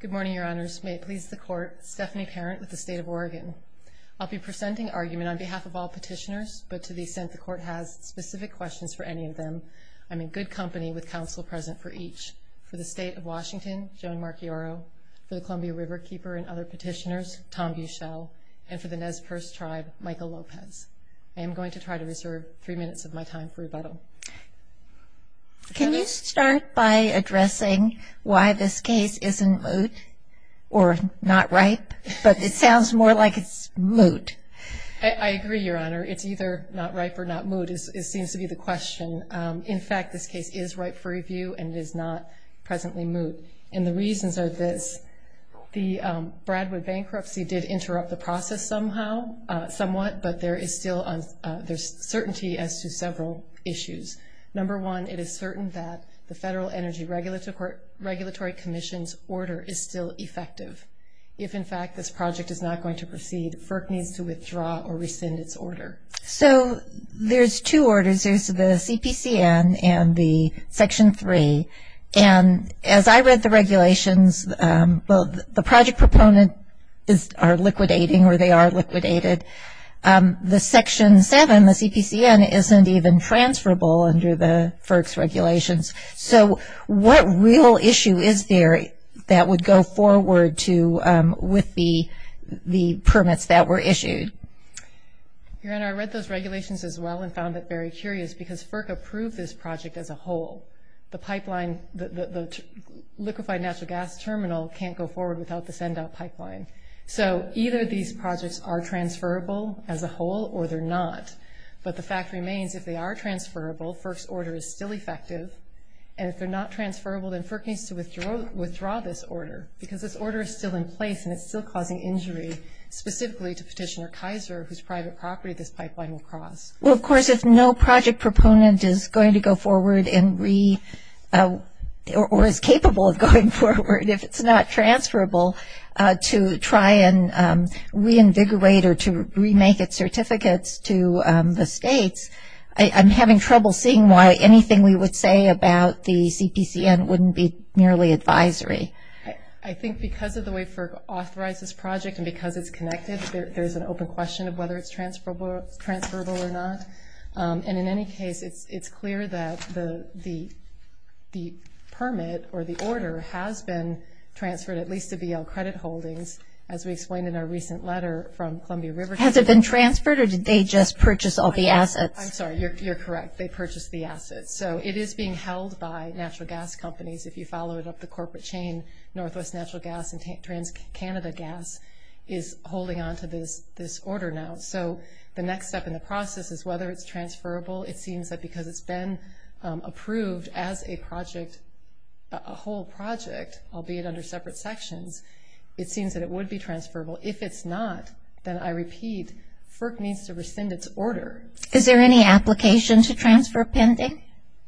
Good morning, Your Honors. May it please the Court, Stephanie Parent with the State of Oregon. I'll be presenting argument on behalf of all petitioners, but to the extent the Court has specific questions for any of them, I'm in good company with counsel present for each. For the State of Washington, Joan Marchioro, for the Columbia Riverkeeper and other petitioners, Tom Buchel, and for the Nez Perce Tribe, Michael Lopez. I am going to try to reserve three minutes of my time for rebuttal. Can you start by addressing why this case isn't moot or not ripe? But it sounds more like it's moot. I agree, Your Honor. It's either not ripe or not moot seems to be the question. In fact, this case is ripe for review and is not presently moot. And the reasons are this. The Bradwood bankruptcy did interrupt the process somehow, somewhat, but there is still certainty as to several issues. Number one, it is certain that the Federal Energy Regulatory Commission's order is still effective. If, in fact, this project is not going to proceed, FERC needs to withdraw or rescind its order. So, there's two orders. There's the CPCN and the Section 3. And as I read the regulations, well, the project proponents are liquidating, or they are liquidated. The Section 7, the CPCN, isn't even transferable under the FERC's regulations. So, what real issue is there that would go forward with the permits that were issued? Your Honor, I read those regulations as well and found it very curious because FERC approved this project as a whole. The pipeline, the liquefied natural gas terminal can't go forward without the send-out pipeline. So, either these projects are transferable as a whole or they're not. But the projects that are transferable, FERC's order is still effective. And if they're not transferable, then FERC needs to withdraw this order because this order is still in place and it's still causing injury, specifically to Petitioner Kaiser, whose private property this pipeline will cross. Well, of course, if no project proponent is going to go forward or is capable of going forward, if it's not transferable, to try and reinvigorate or to remake its certificates to the states, I'm having trouble seeing why anything we would say about the CPCN wouldn't be merely advisory. I think because of the way FERC authorized this project and because it's connected, there's an open question of whether it's transferable or not. And in any case, it's clear that the permit or the order has been transferred at least to BL Credit Holdings, as we explained in our recent letter from Columbia River. Has it been transferred or did they just purchase all the assets? I'm sorry, you're correct. They purchased the assets. So it is being held by natural gas companies if you follow it up the corporate chain, Northwest Natural Gas and TransCanada Gas is holding onto this order now. So the next step in the process is whether it's transferable. It seems that because it's been approved as a project, a whole project, albeit under separate sections, it seems that it would be transferable. If it's not, then I repeat, FERC needs to rescind its order. Is there any application to transfer pending?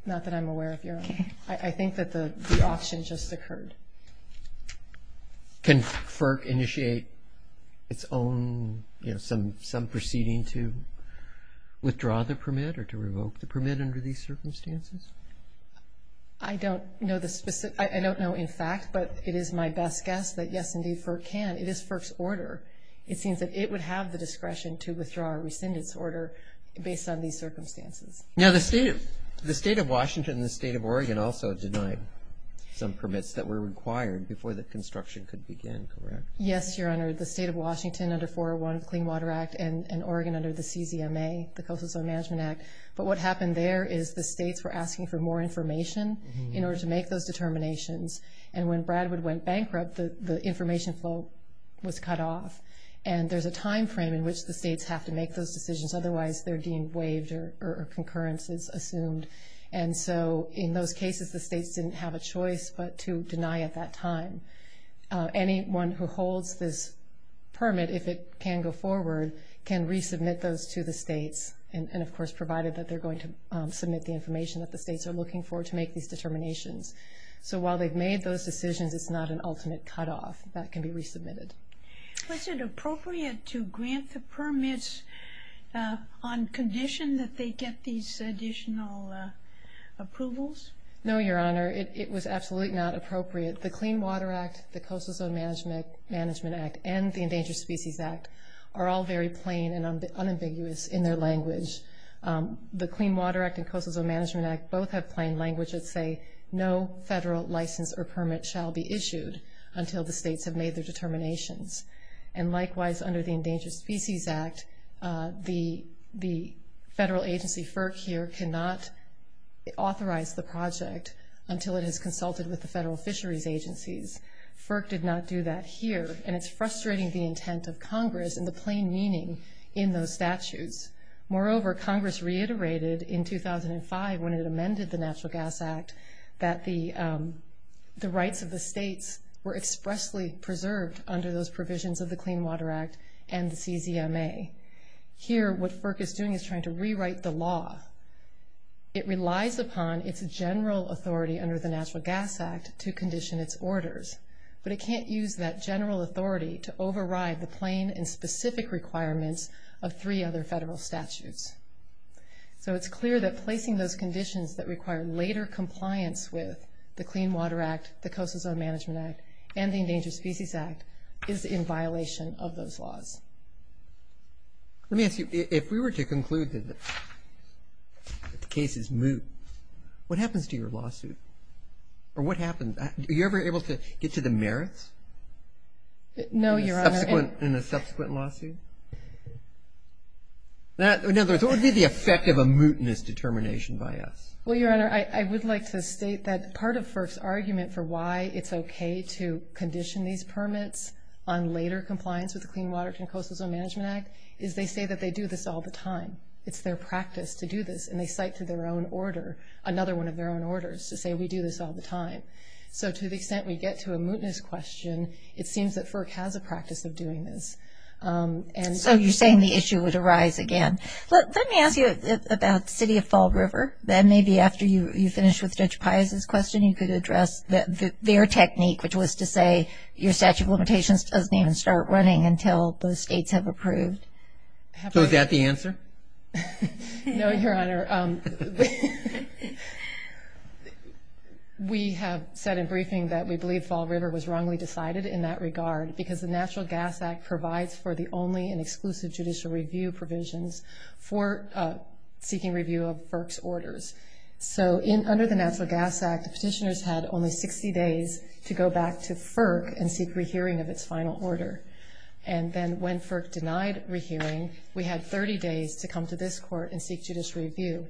Not that I'm aware of, Your Honor. I think that the auction just occurred. Can FERC initiate its own some proceeding to withdraw the permit or to revoke the permit under these circumstances? I don't know in fact, but it is my best guess that yes, indeed, FERC can. It is FERC's order. It seems that it would have the discretion to withdraw or rescind its order based on these circumstances. The state of Washington and the state of Oregon also denied some permits that were required before the construction could begin, correct? Yes, Your Honor. The state of Washington under 401 Clean Water Act and Oregon under the CZMA, the Coastal Zone Management Act. But what happened there is the states were asking for more information in order to make those determinations. And when Bradwood went bankrupt, the information flow was cut off. And there's a time frame in which the states have to make those decisions otherwise they're deemed waived or concurrences assumed. So in those cases, the states didn't have a choice but to deny at that time. Anyone who holds this permit, if it can go forward, can resubmit those to the states. And of course, provided that they're going to submit the information that the states are looking for to make these determinations. So while they've made those decisions, it's not an ultimate cutoff that can be resubmitted. Was it appropriate to grant the permits on condition that they get these additional approvals? No, Your Honor. It was absolutely not appropriate. The Clean Water Act, the Coastal Zone Management Act, and the Endangered Species Act are all very plain and unambiguous in their language. The Clean Water Act and Coastal Zone language would say, no federal license or permit shall be issued until the states have made their determinations. And likewise, under the Endangered Species Act, the federal agency FERC here cannot authorize the project until it has consulted with the federal fisheries agencies. FERC did not do that here. And it's frustrating the intent of Congress and the plain meaning in those statutes. Moreover, Congress reiterated in 2005 when it amended the Natural Gas Act that the rights of the states were expressly preserved under those provisions of the Clean Water Act and the CZMA. Here, what FERC is doing is trying to rewrite the law. It relies upon its general authority under the Natural Gas Act to condition its orders. But it can't use that general authority to override the plain and specific requirements of three other federal statutes. So it's clear that placing those conditions that require later compliance with the Clean Water Act, the Coastal Zone Management Act, and the Endangered Species Act is in violation of those laws. Let me ask you, if we were to conclude that the case is moot, what happens to your lawsuit? Or what happens? Are you ever able to get to the merits? No, Your Honor. In a subsequent lawsuit? In other words, what would be the effect of a mootness determination by us? Well, Your Honor, I would like to state that part of FERC's argument for why it's okay to condition these permits on later compliance with the Clean Water Act and Coastal Zone Management Act is they say that they do this all the time. It's their practice to do this, and they cite to their own order, another one of their own orders, to say we do this all the time. So to the extent we get to a mootness question, it seems that FERC has a So you're saying the issue would arise again. Let me ask you about the City of Fall River. Then maybe after you finish with Judge Piazza's question you could address their technique, which was to say your statute of limitations doesn't even start running until those states have approved. So is that the answer? No, Your Honor. We have said in briefing that we believe Fall River was wrongly decided in that regard because the Natural Gas Act does not require any and exclusive judicial review provisions for seeking review of FERC's orders. So under the Natural Gas Act, petitioners had only 60 days to go back to FERC and seek rehearing of its final order. And then when FERC denied rehearing, we had 30 days to come to this Court and seek judicial review.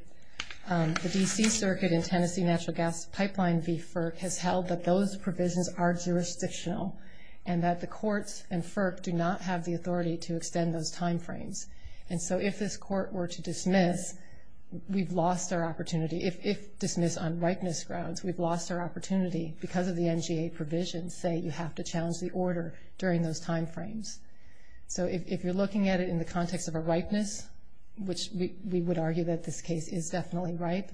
The D.C. Circuit and Tennessee Natural Gas Pipeline v. FERC has held that those provisions are jurisdictional and that the courts and FERC do not have the authority to extend those time frames. And so if this Court were to dismiss we've lost our opportunity. If dismissed on ripeness grounds, we've lost our opportunity because of the NGA provisions say you have to challenge the order during those time frames. So if you're looking at it in the context of a ripeness, which we would argue that this case is definitely ripe,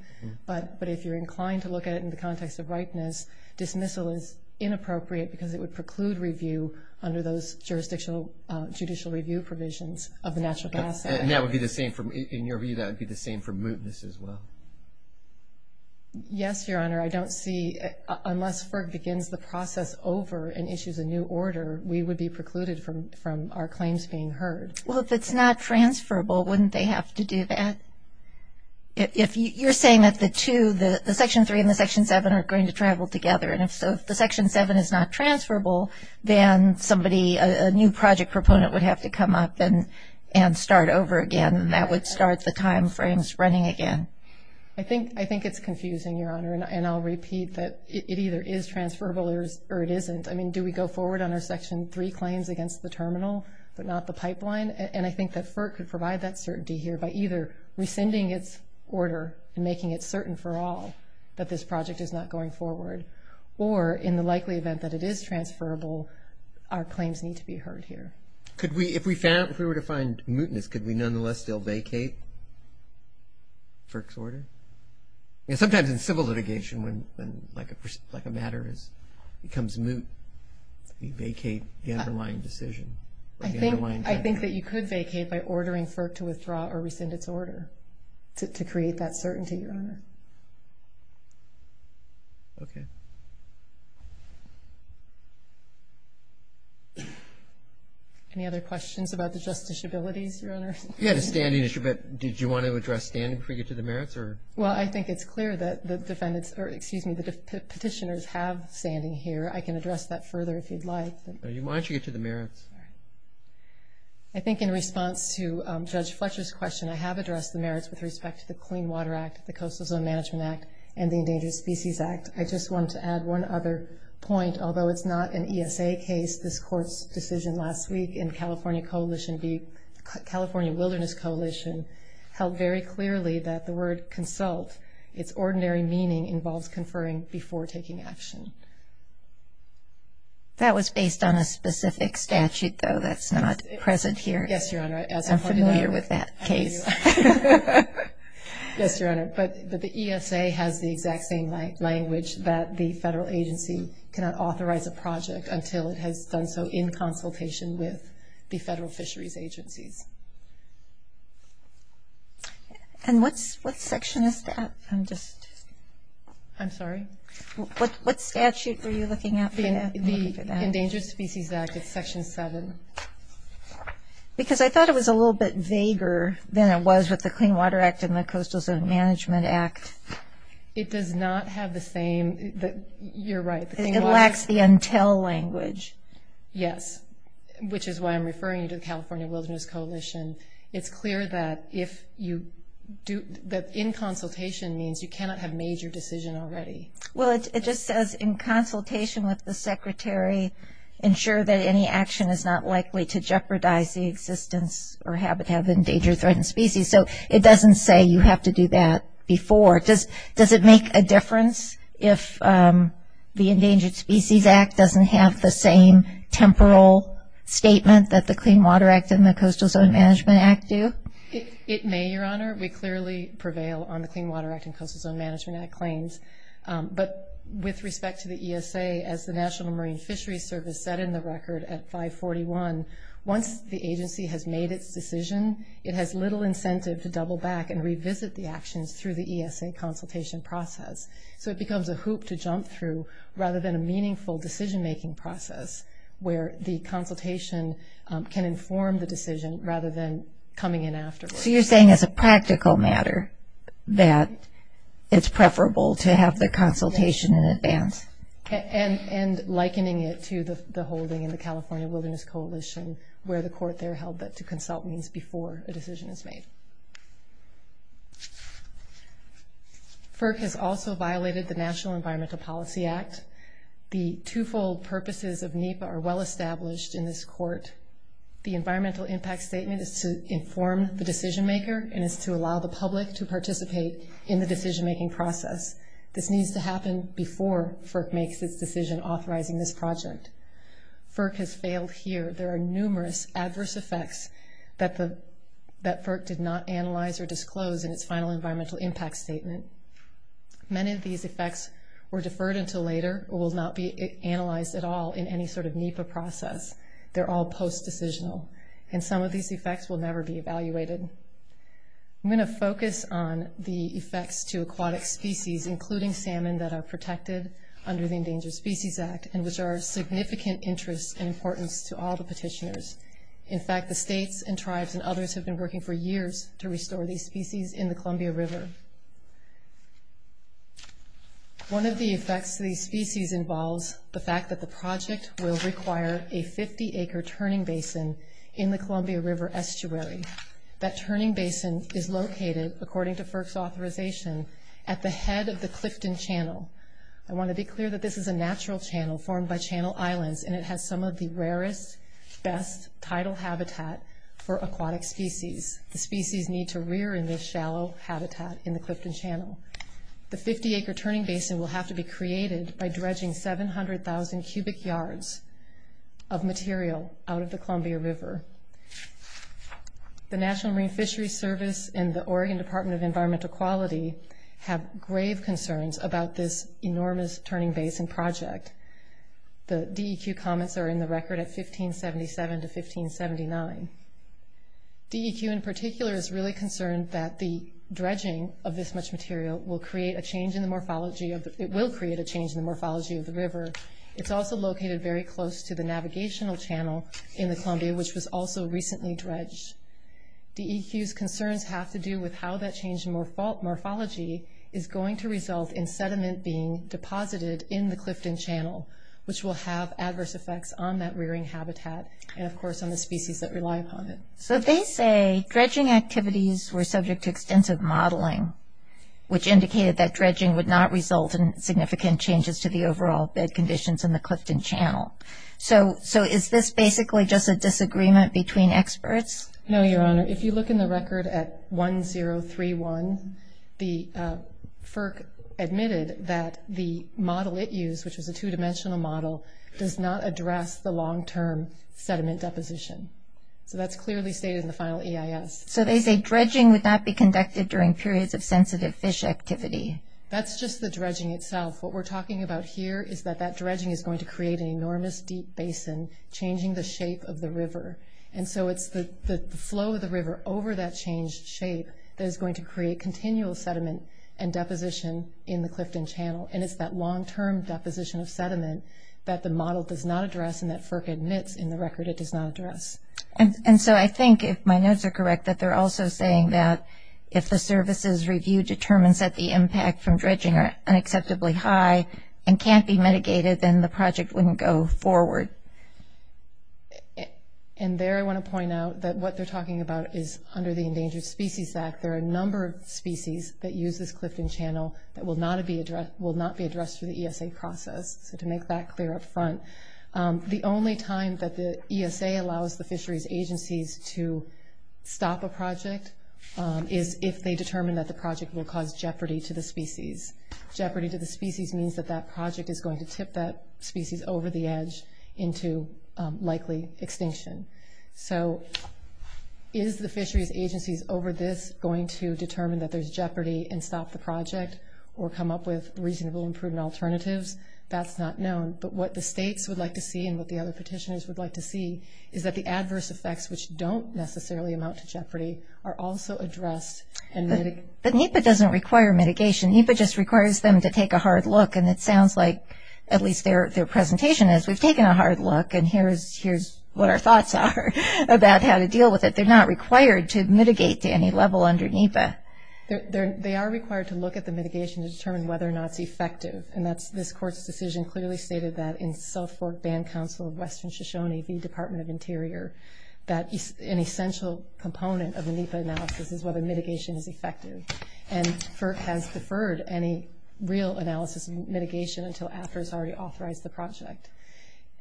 but if you're inclined to look at it in the context of ripeness, dismissal is inappropriate because it would preclude review under those jurisdictional judicial review provisions of the Natural Gas Act. And that would be the same, in your view, that would be the same for mootness as well? Yes, Your Honor. I don't see, unless FERC begins the process over and issues a new order, we would be precluded from our claims being heard. Well, if it's not transferable, wouldn't they have to do that? If you're saying that the two, the Section 3 and the Section 7 are going to travel together, and if the Section 7 is not transferable, then somebody, a new project proponent would have to come up and start over again, and that would start the time frames running again. I think it's confusing, Your Honor, and I'll repeat that it either is transferable or it isn't. I mean, do we go forward on our Section 3 claims against the terminal, but not the pipeline? And I think that FERC could provide that certainty here by either rescinding its order and making it certain for all that this project is not going forward, or in the likely event that it is transferable, our claims need to be heard here. If we were to find mootness, could we nonetheless still vacate FERC's order? I mean, sometimes in civil litigation when a matter becomes moot, we vacate the underlying decision. I think that you could vacate by ordering FERC to withdraw or rescind its order to create that certainty, Your Honor. Okay. Any other questions about the justice abilities, Your Honor? Yeah, the standing issue, but did you want to address standing before we get to the merits? Well, I think it's clear that the petitioners have standing here. I can address that further if you'd like. Why don't you get to the merits? I think in response to the merits with respect to the Clean Water Act, the Coastal Zone Management Act, and the Endangered Species Act, I just want to add one other point. Although it's not an ESA case, this Court's decision last week in California Coalition B, California Wilderness Coalition, held very clearly that the word consult, its ordinary meaning involves conferring before taking action. That was based on a specific statute, though. That's not present here. Yes, Your Honor. I'm familiar with that case. Yes, Your Honor, but the ESA has the exact same language that the federal agency cannot authorize a project until it has done so in consultation with the federal fisheries agencies. And what section is that? I'm sorry? What statute were you looking at for that? The Endangered Species Act, it's Section 7. Because I thought it was a little bit vaguer than it was with the Clean Water Act and the Coastal Zone Management Act. It does not have the same, you're right. It lacks the until language. Yes, which is why I'm referring you to the California Wilderness Coalition. It's clear that if you do, that in consultation means you cannot have made your decision already. Well, it just says in consultation with the secretary ensure that any action is not likely to jeopardize the existence or habitat of endangered threatened species. So it doesn't say you have to do that before. Does it make a difference if the Endangered Species Act doesn't have the same temporal statement that the Clean Water Act and the Coastal Zone Management Act do? It may, Your Honor. We clearly prevail on the Clean Water Act and Coastal Zone Management Act claims. But with respect to the Marine Fisheries Service set in the record at 541, once the agency has made its decision, it has little incentive to double back and revisit the actions through the ESA consultation process. So it becomes a hoop to jump through rather than a meaningful decision making process where the consultation can inform the decision rather than coming in afterwards. So you're saying as a practical matter that it's preferable to have the consultation in advance? And likening it to the holding in the California Wilderness Coalition where the court there held that to consult means before a decision is made. FERC has also violated the National Environmental Policy Act. The two-fold purposes of NEPA are well established in this court. The environmental impact statement is to inform the decision maker and is to allow the public to participate in the decision making process. This needs to happen before FERC makes its decision authorizing this project. FERC has failed here. There are numerous adverse effects that FERC did not analyze or disclose in its final environmental impact statement. Many of these effects were deferred until later or will not be analyzed at all in any sort of NEPA process. They're all post-decisional. And some of these effects will never be evaluated. I'm going to focus on the species, including salmon, that are protected under the Endangered Species Act and which are of significant interest and importance to all the petitioners. In fact, the states and tribes and others have been working for years to restore these species in the Columbia River. One of the effects of these species involves the fact that the project will require a 50-acre turning basin in the Columbia River estuary. That turning basin is located, according to the Clifton Channel. I want to be clear that this is a natural channel formed by Channel Islands, and it has some of the rarest, best, tidal habitat for aquatic species. The species need to rear in this shallow habitat in the Clifton Channel. The 50-acre turning basin will have to be created by dredging 700,000 cubic yards of material out of the Columbia River. The National Marine Fisheries Service and the Oregon Department of Environmental Quality have grave concerns about this enormous turning basin project. The DEQ comments are in the record at 1577 to 1579. DEQ in particular is really concerned that the dredging of this much material will create a change in the morphology of the river. It's also located very close to the navigational channel in the Columbia, which was also recently dredged. DEQ's concerns have to do with how that change in morphology is going to result in sediment being deposited in the Clifton Channel, which will have adverse effects on that rearing habitat, and of course on the species that rely upon it. They say dredging activities were subject to extensive modeling, which indicated that dredging would not result in significant changes to the overall bed conditions in the Clifton Channel. Is this basically just a disagreement between experts? No, Your Honor. If you look in the record at 1031, the FERC admitted that the model it used, which was a two-dimensional model, does not address the long-term sediment deposition. So that's clearly stated in the final EIS. So they say dredging would not be conducted during periods of sensitive fish activity. That's just the dredging itself. What we're talking about here is that that dredging is going to create an enormous deep basin, changing the shape of the flow of the river over that changed shape that is going to create continual sediment and deposition in the Clifton Channel. And it's that long-term deposition of sediment that the model does not address and that FERC admits in the record it does not address. And so I think, if my notes are correct, that they're also saying that if the services review determines that the impact from dredging are unacceptably high and can't be mitigated, then the project wouldn't go forward. And there I want to point out that what they're talking about is under the Endangered Species Act, there are a number of species that use this Clifton Channel that will not be addressed through the ESA process. So to make that clear up front, the only time that the ESA allows the fisheries agencies to stop a project is if they determine that the project will cause jeopardy to the species. Jeopardy to the species means that that project is going to tip that into likely extinction. So is the fisheries agencies over this going to determine that there's jeopardy and stop the project or come up with reasonable and prudent alternatives? That's not known. But what the states would like to see and what the other petitioners would like to see is that the adverse effects, which don't necessarily amount to jeopardy, are also addressed. But NEPA doesn't require mitigation. NEPA just requires them to take a hard look. And it sounds like, at least their presentation is, we've taken a hard look and here's what our thoughts are about how to deal with it. They're not required to mitigate to any level under NEPA. They are required to look at the mitigation to determine whether or not it's effective. And this Court's decision clearly stated that in South Fork Band Council of Western Shoshone v. Department of Interior, that an essential component of a NEPA analysis is whether mitigation is effective. And FERC has deferred any real analysis of mitigation until after it's already authorized the project.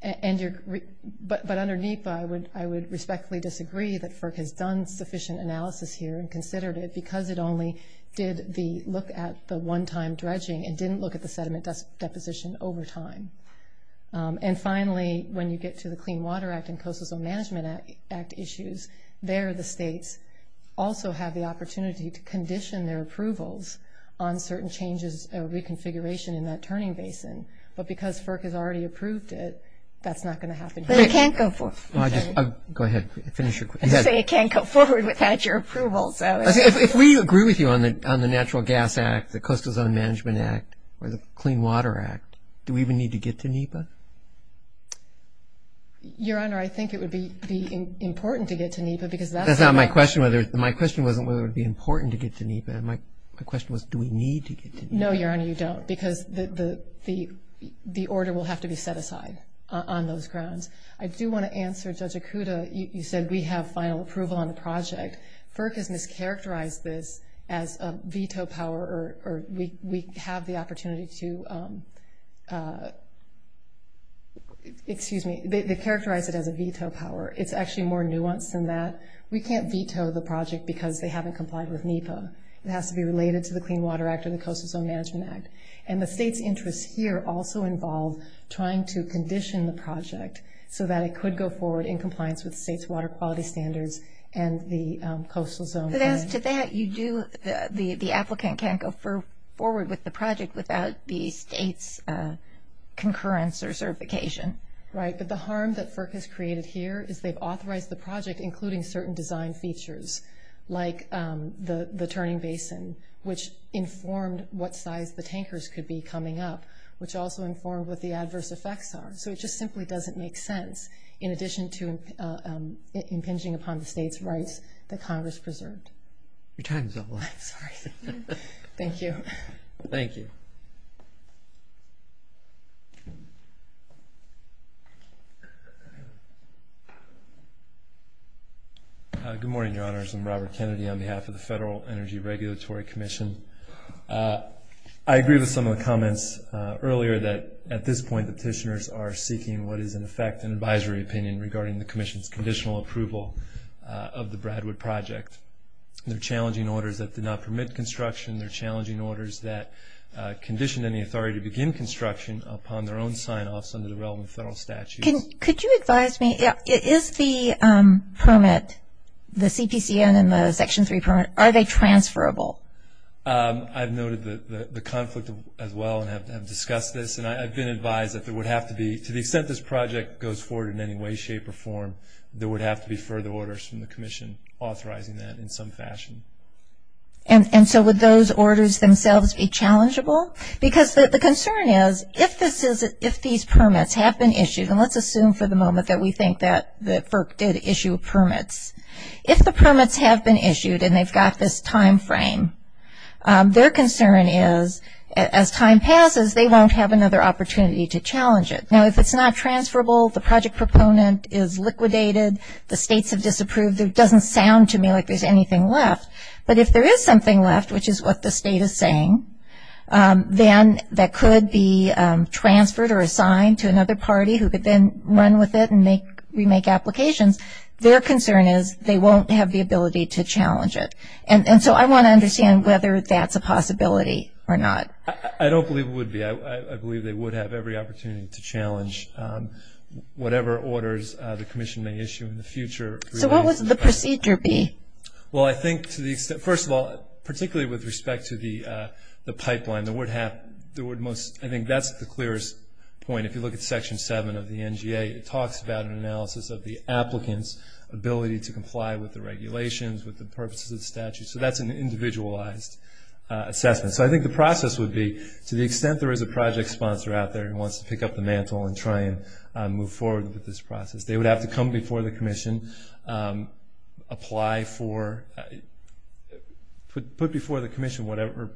But under NEPA, I would respectfully disagree that FERC has done sufficient analysis here and considered it because it only did the look at the one-time dredging and didn't look at the sediment deposition over time. And finally, when you get to the Clean Water Act and Coastal Zone Management Act issues, there the states also have the opportunity to condition their approvals on certain changes or reconfiguration in that turning basin. But because FERC has already approved it, that's not going to happen here. Go ahead, finish your question. If we agree with you on the Natural Gas Act, the Coastal Zone Management Act, or the Clean Water Act, do we even need to get to NEPA? Your Honor, I think it would be important to get to NEPA. That's not my question. My question wasn't whether it would be important to get to NEPA. No, Your Honor, you don't, because the order will have to be set aside on those grounds. I do want to answer, Judge Okuda, you said we have final approval on the project. FERC has mischaracterized this as a veto power, or we have the opportunity to excuse me, they characterize it as a veto power. It's actually more nuanced than that. We can't veto the project because they haven't complied with NEPA. It has to be related to the Clean Water Act or the Coastal Zone Management Act. The State's interests here also involve trying to condition the project so that it could go forward in compliance with the State's water quality standards and the Coastal Zone. But as to that, you do, the applicant can't go forward with the project without the State's concurrence or certification. Right, but the harm that FERC has created here is they've authorized the project including certain design features like the turning basin, which informed what size the tankers could be coming up, which also informed what the adverse effects are. So it just simply doesn't make sense, in addition to impinging upon the State's rights that Congress preserved. Your time is up. I'm sorry. Thank you. Thank you. Good morning, Your Honors. I'm Robert Kennedy on behalf of the Federal Energy Regulatory Commission. I agree with some of the comments earlier that at this point petitioners are seeking what is, in effect, an advisory opinion regarding the Commission's conditional approval of the Bradwood project. They're challenging orders that did not permit construction. They're challenging orders that conditioned any authority to begin construction upon their own sign-offs under the relevant Federal statutes. Could you advise me, is the permit, the CPCN and the Section 3 permit, are they transferable? I've noted the conflict as well and have discussed this, and I've been advised that there would have to be, to the extent this project goes forward in any way, shape, or form, there would have to be further orders from the Commission authorizing that in some fashion. And so would those be transferable? Because the concern is, if these permits have been issued, and let's assume for the moment that we think that FERC did issue permits, if the permits have been issued and they've got this time frame, their concern is, as time passes, they won't have another opportunity to challenge it. Now, if it's not transferable, the project proponent is liquidated, the states have disapproved, it doesn't sound to me like there's anything left. But if there is something left, which is what the state is saying, then that could be transferred or assigned to another party who could then run with it and remake applications, their concern is they won't have the ability to challenge it. And so I want to understand whether that's a possibility or not. I don't believe it would be. I believe they would have every opportunity to challenge whatever orders the Commission may issue in the future. So what would the procedure be? Well, I think to the extent, first of all, particularly with respect to the pipeline, I think that's the clearest point. If you look at Section 7 of the NGA, it talks about an analysis of the applicant's ability to comply with the regulations, with the purposes of the statute. So that's an individualized assessment. So I think the process would be, to the extent there is a project sponsor out there who wants to pick up the mantle and try and move forward with this process, they would have to come before the Commission, apply for, put before the Commission whatever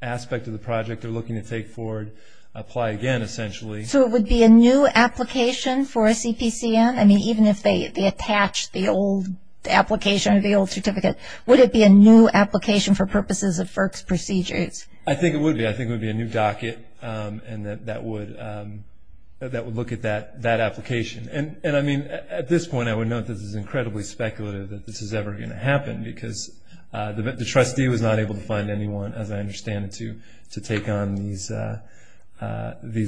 aspect of the project they're looking to take forward, apply again, essentially. So it would be a new application for CPCM? I mean, even if they attach the old application or the old certificate, would it be a new application for purposes of FERC's procedures? I think it would be. I think it would be a new docket that would look at that application. And I mean, at this point, I would note that this is incredibly speculative that this is ever going to happen, because the trustee was not able to find anyone, as I understand it, to take on these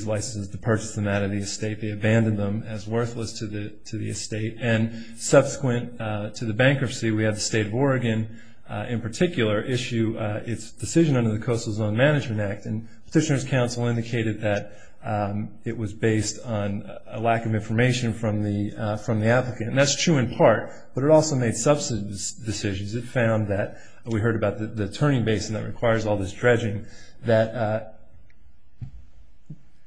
licenses, to purchase them out of the estate. They abandoned them as worthless to the estate. And subsequent to the bankruptcy, we had the State of Oregon in particular issue its decision under the Coastal Zone Management Act, and Petitioner's Council indicated that it was based on a lack of information from the applicant. And that's true in part, but it also made substantive decisions. It found that we heard about the turning basin that requires all this dredging, that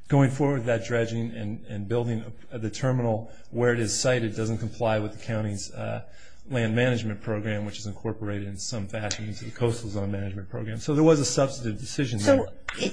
going forward with that dredging and building the terminal where it is sited doesn't comply with the county's land management program, which is incorporated in some fashion into the Coastal Zone Management Program. So there was a substantive decision there. So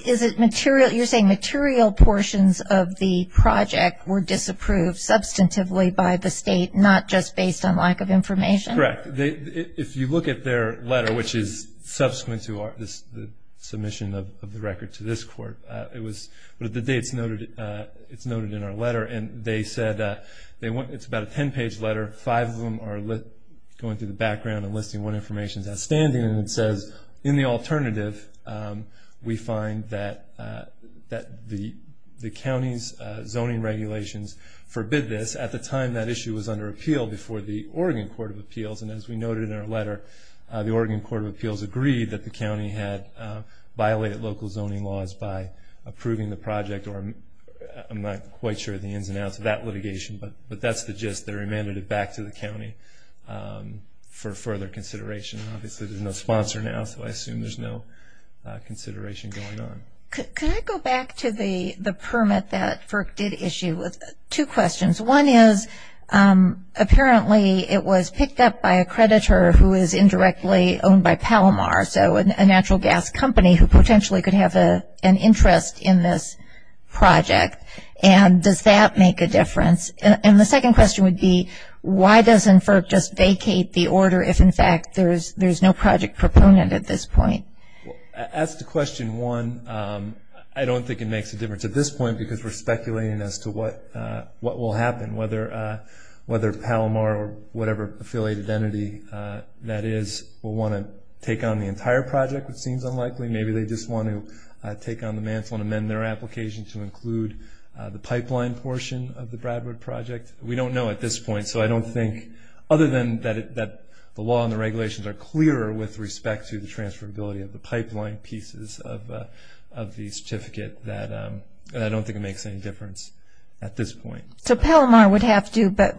is it material, you're saying material portions of the project were disapproved substantively by the state, not just based on lack of information? Correct. If you look at their letter, which is subsequent to the submission of the record to this court, it was, the dates noted in our letter, and they said, it's about a 10-page letter. Five of them are going through the background and listing what information is outstanding, and it says, in the alternative, we find that the county's zoning regulations forbid this. At the time that issue was under appeal before the Oregon Court of Appeals, and as we noted in our letter, the Oregon Court of Appeals agreed that the county had violated local zoning laws by approving the project, or I'm not quite sure of the ins and outs of that litigation, but that's the gist. They remanded it back to the county for further consideration. Obviously there's no sponsor now, so I assume there's no consideration going on. Could I go back to the permit that FERC did issue with two questions. One is, apparently it was picked up by a creditor who is indirectly owned by Palomar, so a natural gas company who potentially could have an interest in this project, and does that make a difference? And the second question would be, why doesn't FERC just vacate the order if, in fact, there's no project proponent at this point? As to question one, I don't think it makes a difference at this point because we're speculating as to what will happen, whether Palomar or whatever affiliated entity that is will want to take on the entire project, which seems unlikely. Maybe they just want to take on the mantle and amend their application to include the pipeline portion of the Bradwood project. We don't know at this point, so I don't think other than that the law and the regulations are clearer with respect to the transferability of the pipeline pieces of the certificate, that I don't think it makes any difference at this point. So Palomar would have to, but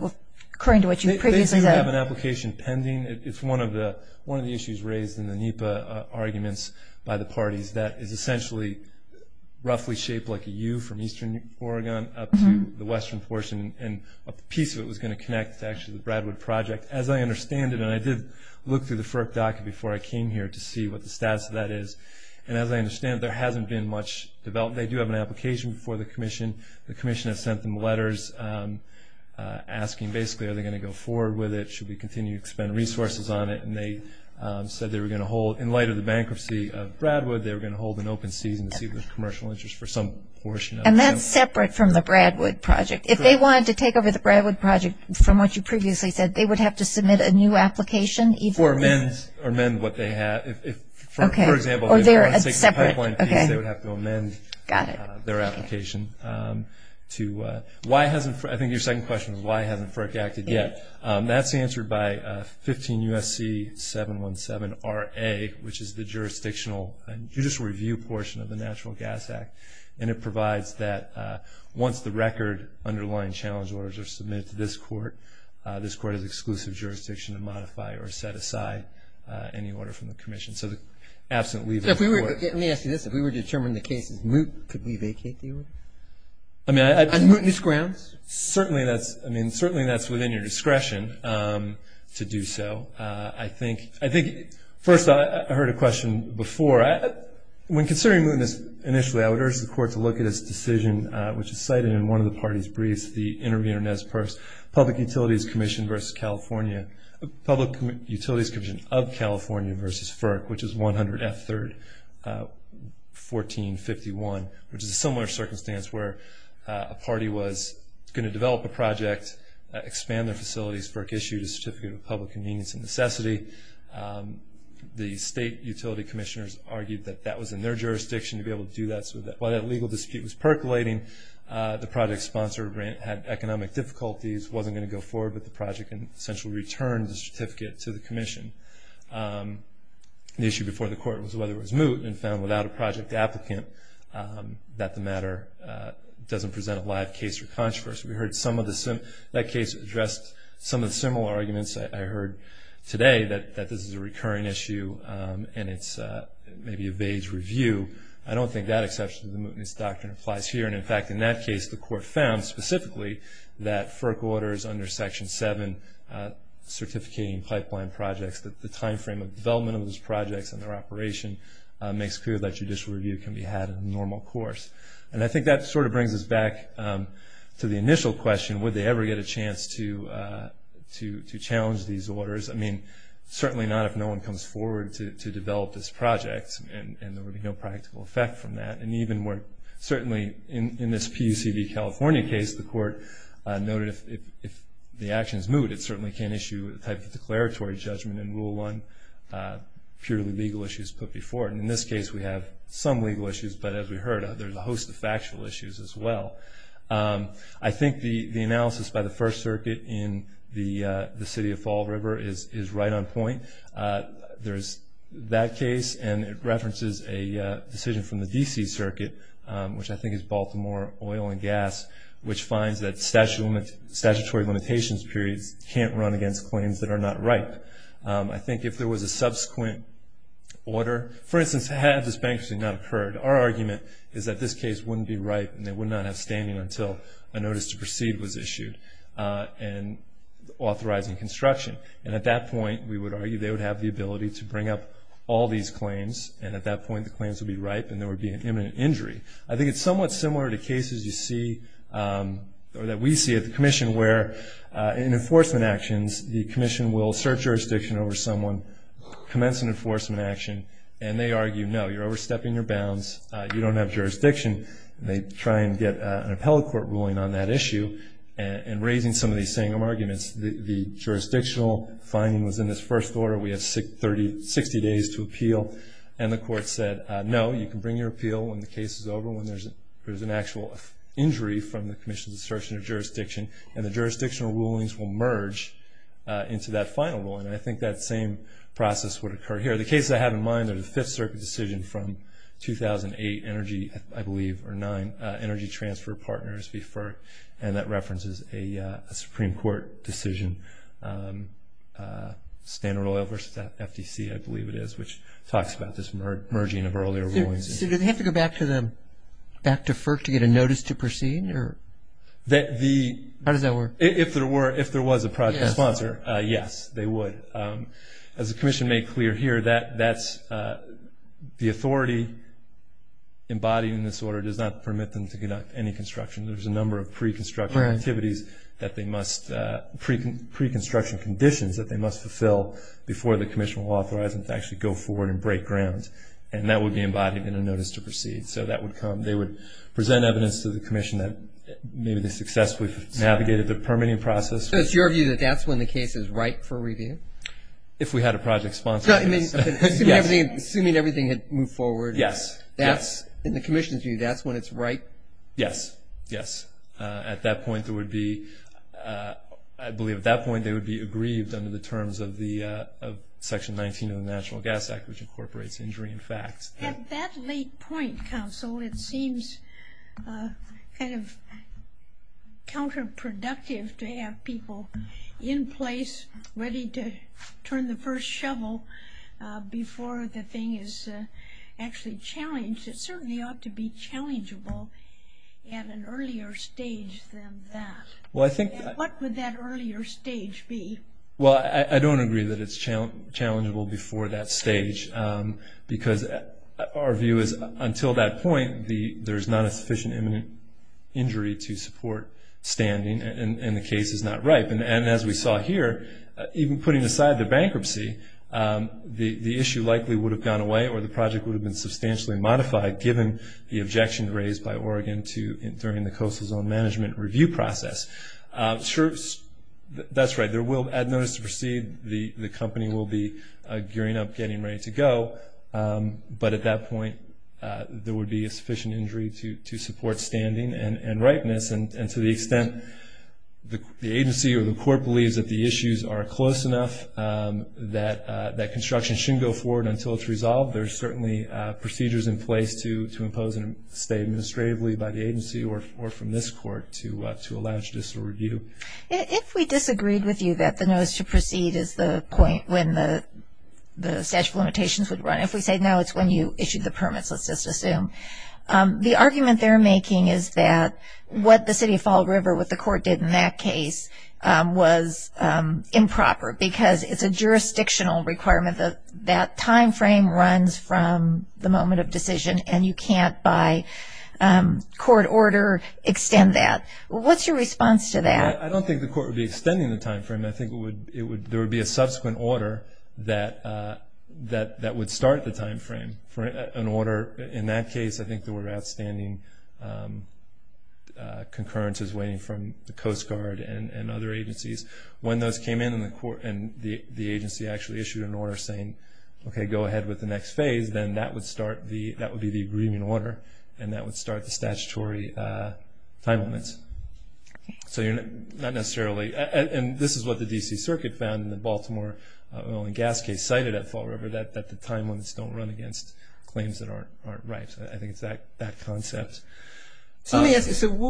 according to what you previously said... They do have an application pending. It's one of the issues raised in the NEPA arguments by the parties that is essentially roughly shaped like a U from eastern Oregon up to the western portion, and a piece of it was going to connect to actually the Bradwood project. As I understand it, and I did look through the FERC docket before I came here to see what the status of that is, and as I understand it, there hasn't been much development. They do have an application before the commission. The commission has sent them letters asking basically are they going to go forward with it, should we continue to expend resources on it, and they said they were going to hold, in light of the bankruptcy of Bradwood, they were going to hold an open season to see if there's commercial interest for some portion of it. And that's separate from the Bradwood project. If they wanted to take over the Bradwood project, from what you previously said, they would have to submit a new application? Or amend what they have. For example, if they wanted to take the pipeline piece, they would have to amend their application. I think your second question was why hasn't FERC acted yet? That's answered by 15 U.S.C. 717-RA, which is the jurisdictional judicial review portion of the Natural Gas Act, and it provides that once the record underlying challenge orders are submitted to this court, this court has exclusive jurisdiction to modify or set aside any order from the commission. So the absent leaver of the court. Let me ask you this. If we were to determine the case as moot, could we vacate the order? On mootness grounds? Certainly that's within your discretion to do so. I think first I heard a question before. When considering mootness initially, I would urge the court to look at its decision, which is cited in one of the parties' briefs, the intervenor, Nez Perce, Public Utilities Commission versus California Public Utilities Commission of California versus FERC, which is 100 F. 3rd, 1451, which is a similar circumstance where a party was going to develop a project, expand their facilities. FERC issued a certificate of public convenience and necessity. The state utility commissioners argued that that was in their jurisdiction to be able to do that. While that legal dispute was percolating, the project sponsor had economic difficulties, wasn't going to go forward with the project, and essentially returned the certificate to the commission. The issue before the court was whether it was moot, and found without a project applicant that the matter doesn't present a live case for controversy. We heard some of the, that case addressed some of the similar arguments I heard today, that this is a recurring issue and it's maybe a vague review. I don't think that exception to the mootness doctrine applies here, and in fact, in that case, the court found specifically that FERC orders under Section 7 Certificating Pipeline Projects, that the time frame of development of those projects and their operation makes clear that judicial review can be had in the normal course. And I think that sort of brings us back to the initial question, would they ever get a chance to challenge these orders? I mean, certainly not if no one comes forward to develop this project, and there would be no practical effect from that. And even more, certainly in this PUCV California case, the court noted if the action is moot, it certainly can issue a type of declaratory judgment and rule on purely legal issues put before it. In this case, we have some legal issues, but as we heard, there's a host of factual issues as well. I think the analysis by the First Circuit in the point, there's that case, and it references a decision from the D.C. Circuit, which I think is Baltimore Oil and Gas, which finds that statutory limitations periods can't run against claims that are not ripe. I think if there was a subsequent order, for instance, had this bankruptcy not occurred, our argument is that this case wouldn't be ripe, and they would not have standing until a notice to proceed was issued, and authorizing construction. And at that point, we would argue they would have the ability to bring up all these claims, and at that point, the claims would be ripe, and there would be an imminent injury. I think it's somewhat similar to cases you see, or that we see at the Commission, where in enforcement actions, the Commission will assert jurisdiction over someone, commence an enforcement action, and they argue, no, you're overstepping your bounds, you don't have jurisdiction. They try and get an appellate court ruling on that issue, and raising some of these same arguments. The jurisdictional finding was in this first order, we have 60 days to appeal, and the court said no, you can bring your appeal when the case is over, when there's an actual injury from the Commission's assertion of jurisdiction, and the jurisdictional rulings will merge into that final ruling. I think that same process would occur here. The case I have in mind is a Fifth Circuit decision from 2008 Energy, I believe, or 9 Energy Transfer Partners, and that references a Supreme Court decision, Standard Oil versus FTC, I believe it is, which talks about this merging of earlier rulings. So do they have to go back to FERC to get a notice to proceed? How does that work? If there was a project sponsor, yes, they would. As the Commission made clear here, the authority embodying this order does not permit them to conduct any construction. There's a number of pre-construction activities that they must, pre-construction conditions that they must fulfill before the Commission will authorize them to actually go forward and break ground, and that would be embodied in a notice to proceed, so that would come. They would present evidence to the Commission that maybe they successfully navigated the permitting process. So it's your view that that's when the case is ripe for review? If we had a project sponsor. Assuming everything had moved forward. Yes. In the Commission's view, that's when it's ripe? Yes, yes. At that point there would be, I believe at that point they would be aggrieved under the terms of Section 19 of the National Gas Act, which incorporates injury and facts. At that late point, Counsel, it seems kind of counterproductive to have people in place ready to turn the first shovel before the challenge. It certainly ought to be challengeable at an earlier stage than that. What would that earlier stage be? Well, I don't agree that it's challengeable before that stage, because our view is until that point, there's not a sufficient imminent injury to support standing, and the case is not ripe. And as we saw here, even putting aside the bankruptcy, the issue likely would have gone away or the project would have been substantially modified, given the objection raised by Oregon during the Coastal Zone Management Review process. That's right, there will, at notice to proceed, the company will be gearing up, getting ready to go, but at that point, there would be a sufficient injury to support standing and ripeness, and to the extent the agency or the court believes that the issues are close enough that construction shouldn't go forward until it's resolved, there's certainly procedures in place to impose and stay administratively by the agency or from this court to allow judicial review. If we disagreed with you that the notice to proceed is the point when the statute of limitations would run, if we say no, it's when you issued the permits, let's just assume. The argument they're making is that what the City of Fall River with the court did in that case was improper because it's a jurisdictional requirement that that time frame runs from the moment of decision and you can't by court order extend that. What's your response to that? I don't think the court would be extending the time frame. I think there would be a subsequent order that would start the time frame. In that case, I think there were outstanding concurrences waiting from the Coast Guard and other agencies. When those came in and the agency actually issued an order saying go ahead with the next phase, then that would be the agreement order and that would start the statutory time limits. This is what the DC Circuit found in the Baltimore oil and gas case cited at Fall River that the time limits don't run against claims that aren't right. I think it's that concept.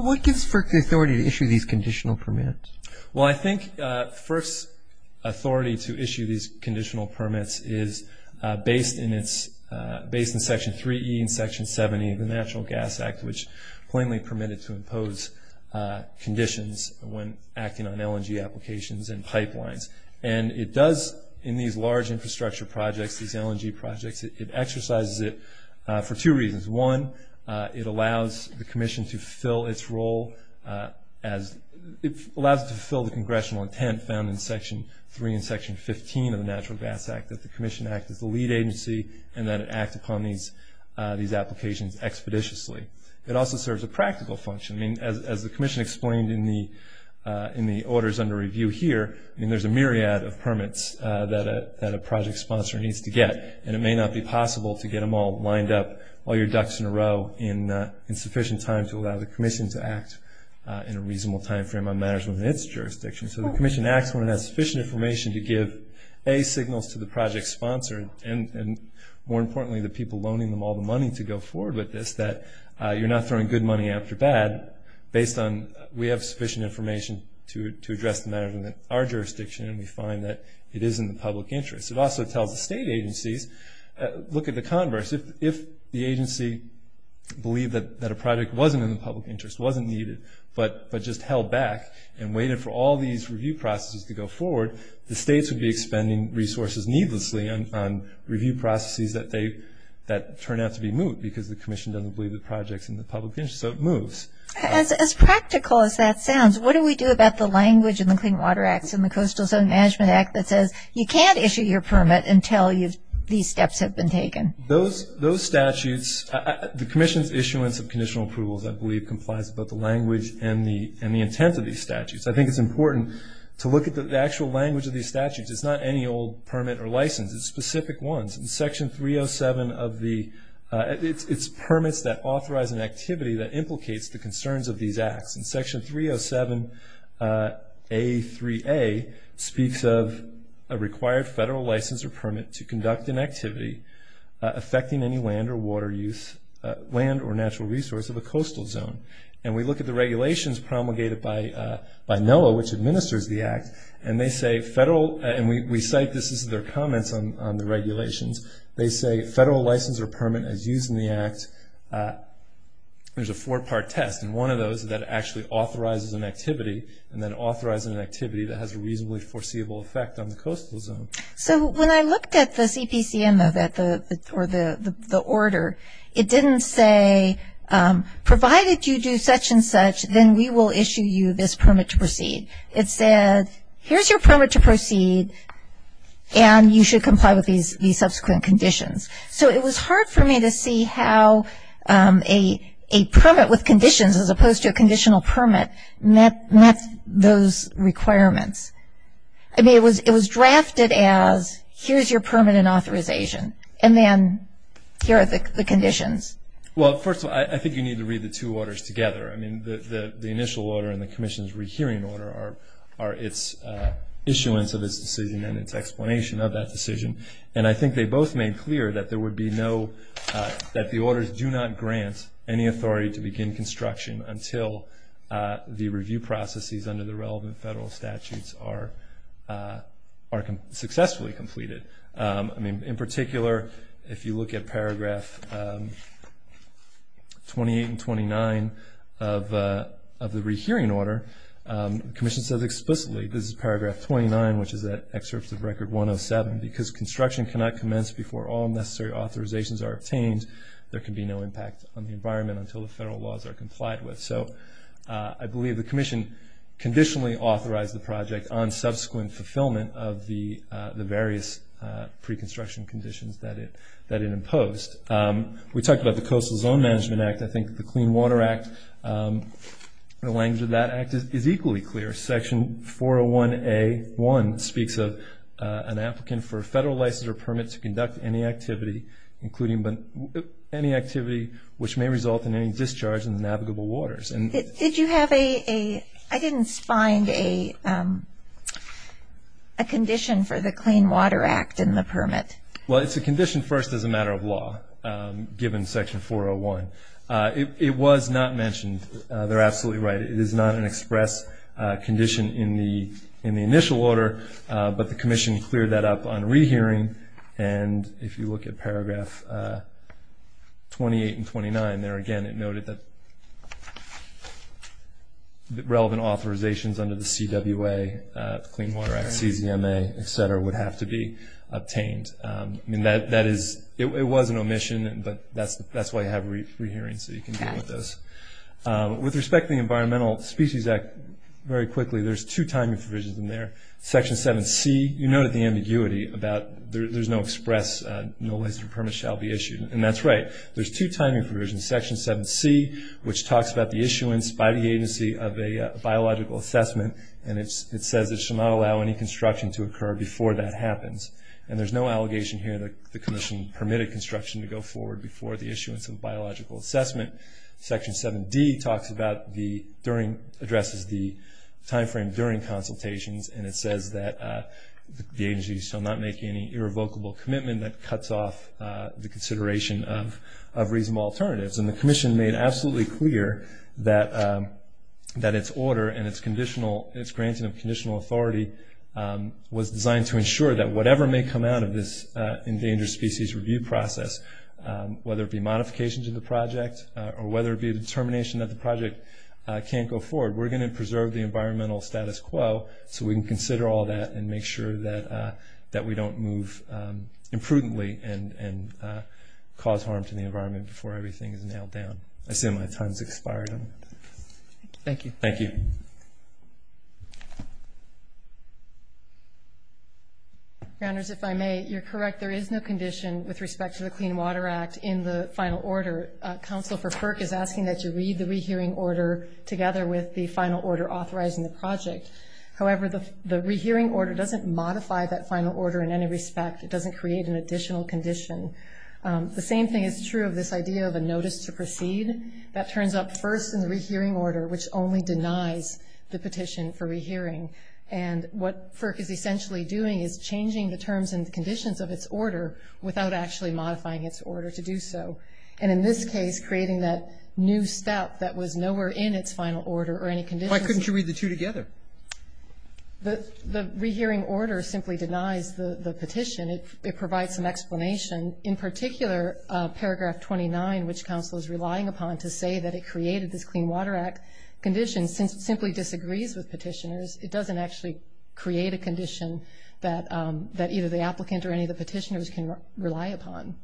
What gives FERC the authority to issue these I think FERC's authority to issue these conditional permits is based in Section 3E and Section 70 of the Natural Gas Act, which plainly permitted to impose conditions when acting on LNG applications and pipelines. In these large infrastructure projects, these LNG projects, it exercises it for two reasons. One, it allows the commission to fulfill its role as congressional intent found in Section 3 and Section 15 of the Natural Gas Act that the commission act as the lead agency and that it act upon these applications expeditiously. It also serves a practical function. As the commission explained in the orders under review here, there's a myriad of permits that a project sponsor needs to get and it may not be possible to get them all lined up while you're ducks in a row in sufficient time to allow the commission to act in a reasonable time frame on matters within its jurisdiction. So the commission acts when it has sufficient information to give A, signals to the project sponsor and more importantly the people loaning them all the money to go forward with this that you're not throwing good money after bad based on we have sufficient information to address the matters within our jurisdiction and we find that it is in the public interest. It also tells the state agencies look at the converse. If the agency believed that a project wasn't in the public interest, wasn't needed, but just held back and waited for all these review processes to go forward, the states would be expending resources needlessly on review processes that turn out to be moot because the commission doesn't believe the project's in the public interest so it moves. As practical as that sounds, what do we do about the language in the Clean Water Act and the Coastal Zone Management Act that says you can't issue your permit until these steps have been taken? Those statutes the commission's issuance of conditional approvals I believe complies with both the language and the intent of these statutes. I think it's important to look at the actual language of these statutes. It's not any old permit or license. It's specific ones and section 307 of the, it's permits that authorize an activity that implicates the concerns of these acts and section 307 A3A speaks of a required federal license or permit to conduct an activity affecting any land or water use, land or natural resource of a coastal zone. And we look at the regulations promulgated by NOAA which administers the act and they say federal, and we cite this as their comments on the regulations, they say federal license or permit as used in the act, there's a four part test and one of those that actually authorizes an activity and then authorizes an activity that has a reasonably foreseeable effect on the coastal zone. So when I looked at the CPCN or the order it didn't say provided you do such and such then we will issue you this permit to proceed. It said here's your permit to proceed and you should comply with these subsequent conditions. So it was hard for me to see how a permit with conditions as opposed to a conditional permit met those requirements. I mean it was drafted as here's your permit and authorization and then here are the conditions. Well first of all I think you need to read the two orders together. I mean the initial order and the commission's rehearing order are its issuance of its decision and its explanation of that decision. And I think they both made clear that there would be no that the orders do not grant any authority to begin construction until the review processes under the relevant federal statutes are successfully completed. I mean in particular if you look at paragraph 28 and 29 of the rehearing order, the commission says explicitly, this is paragraph 29 which is that excerpt of Record 107, because construction cannot commence before all necessary authorizations are obtained, there can be no impact on the environment until the federal laws are complied with. So I believe the commission conditionally authorized the project on subsequent fulfillment of the various pre-construction conditions that it imposed. We talked about the Coastal Zone Management Act. I think the Clean Water Act the language of that act is equally clear. Section 401A.1 speaks of an applicant for a federal license or permit to conduct any activity which may result in any discharge in the navigable waters. Did you have a, I didn't find a condition for the Clean Water Act in the permit. Well it's a condition first as a matter of law, given section 401. It was not mentioned, they're absolutely right. It is not an express condition in the initial order but the commission cleared that up on rehearing and if you look at paragraph 28 and 29 there again it noted that relevant authorizations under the CWA, Clean Water Act, CZMA, etc. would have to be obtained. I mean that is, it was an omission but that's why you have rehearings so you can deal with those. With respect to the Environmental Species Act, very quickly there's two timing provisions in there. Section 7C, you noted the ambiguity about there's no express, no license or permit shall be issued. And that's right. There's two timing provisions. Section 7C which talks about the issuance by the agency of a biological assessment and it says it shall not allow any construction to occur before that happens. And there's no allegation here that the commission permitted construction to go forward before the issuance of a biological assessment. Section 7D talks about the, during, addresses the time frame during consultations and it says that the agency shall not make any irrevocable commitment that cuts off the consideration of reasonable alternatives. And the commission made absolutely clear that it's order and it's conditional, it's granting of conditional authority was designed to ensure that whatever may come out of this endangered species review process, whether it be modifications of the project or whether it be a determination that the project can't go forward, we're going to preserve the environmental status quo so we can consider all that and make sure that we don't move imprudently and cause harm to the environment before everything is nailed down. I assume my time has expired. Thank you. Thank you. Grounders, if I may, you're correct. There is no condition with respect to the Clean Water Act in the final order. Council for FERC is asking that you read the rehearing order together with the final order authorizing the project. However, the rehearing order doesn't modify that final order in any respect. It doesn't create an additional condition. The same thing is true of this idea of a notice to proceed. That turns up first in the rehearing order, which only denies the petition for rehearing. And what FERC is essentially doing is changing the terms and conditions of its order without actually modifying its order to do so. And in this case, creating that new step that was nowhere in its final order or any conditions. Why couldn't you read the two together? The rehearing order simply denies the petition. It provides some explanation. In particular, paragraph 29, which Council is relying upon to say that it created this Clean Water Act condition simply disagrees with petitioners. It doesn't actually create a condition that either the applicant or any of the petitioners can rely upon.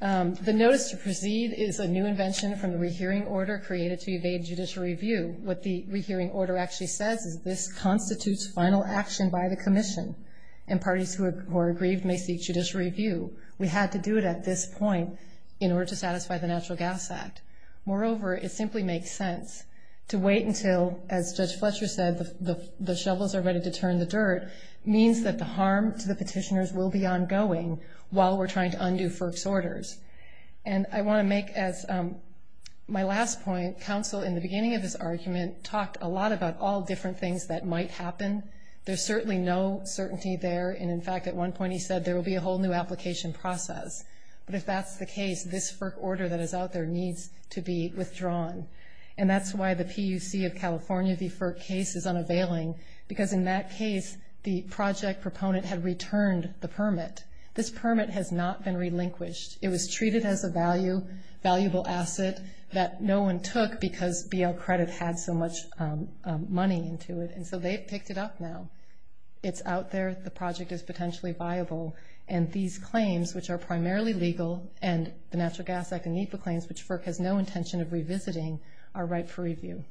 The notice to proceed is a new invention from the rehearing order created to evade judicial review. What the rehearing order actually says is this constitutes final action by the Commission and parties who are aggrieved may seek judicial review. We had to do it at this point in order to satisfy the Natural Gas Act. Moreover, it simply makes sense to wait until, as Judge Fletcher said, the shovels are ready to turn the dirt, means that the harm to the petitioners will be ongoing while we're trying to undo FERC's orders. And I want to make as my last point, Council in the beginning of this argument talked a lot about all different things that might happen. There's certainly no certainty there, and in fact at one point he said there will be a whole new application process. But if that's the case, this FERC order that is out there needs to be withdrawn. And that's why the PUC of California v. FERC case is unavailing, because in that case the project proponent had returned the permit. This permit has not been relinquished. It was a real asset that no one took because BL Credit had so much money into it. And so they've picked it up now. It's out there. The project is potentially viable. And these claims, which are primarily legal, and the Natural Gas Act and NEPA claims, which FERC has no intention of revisiting, are ripe for review.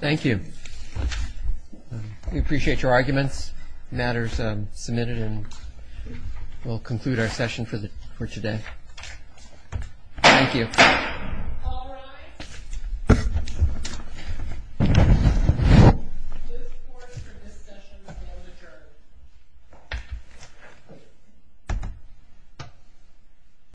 Thank you. We appreciate your arguments. Matters submitted and we'll conclude our session for today. Thank you.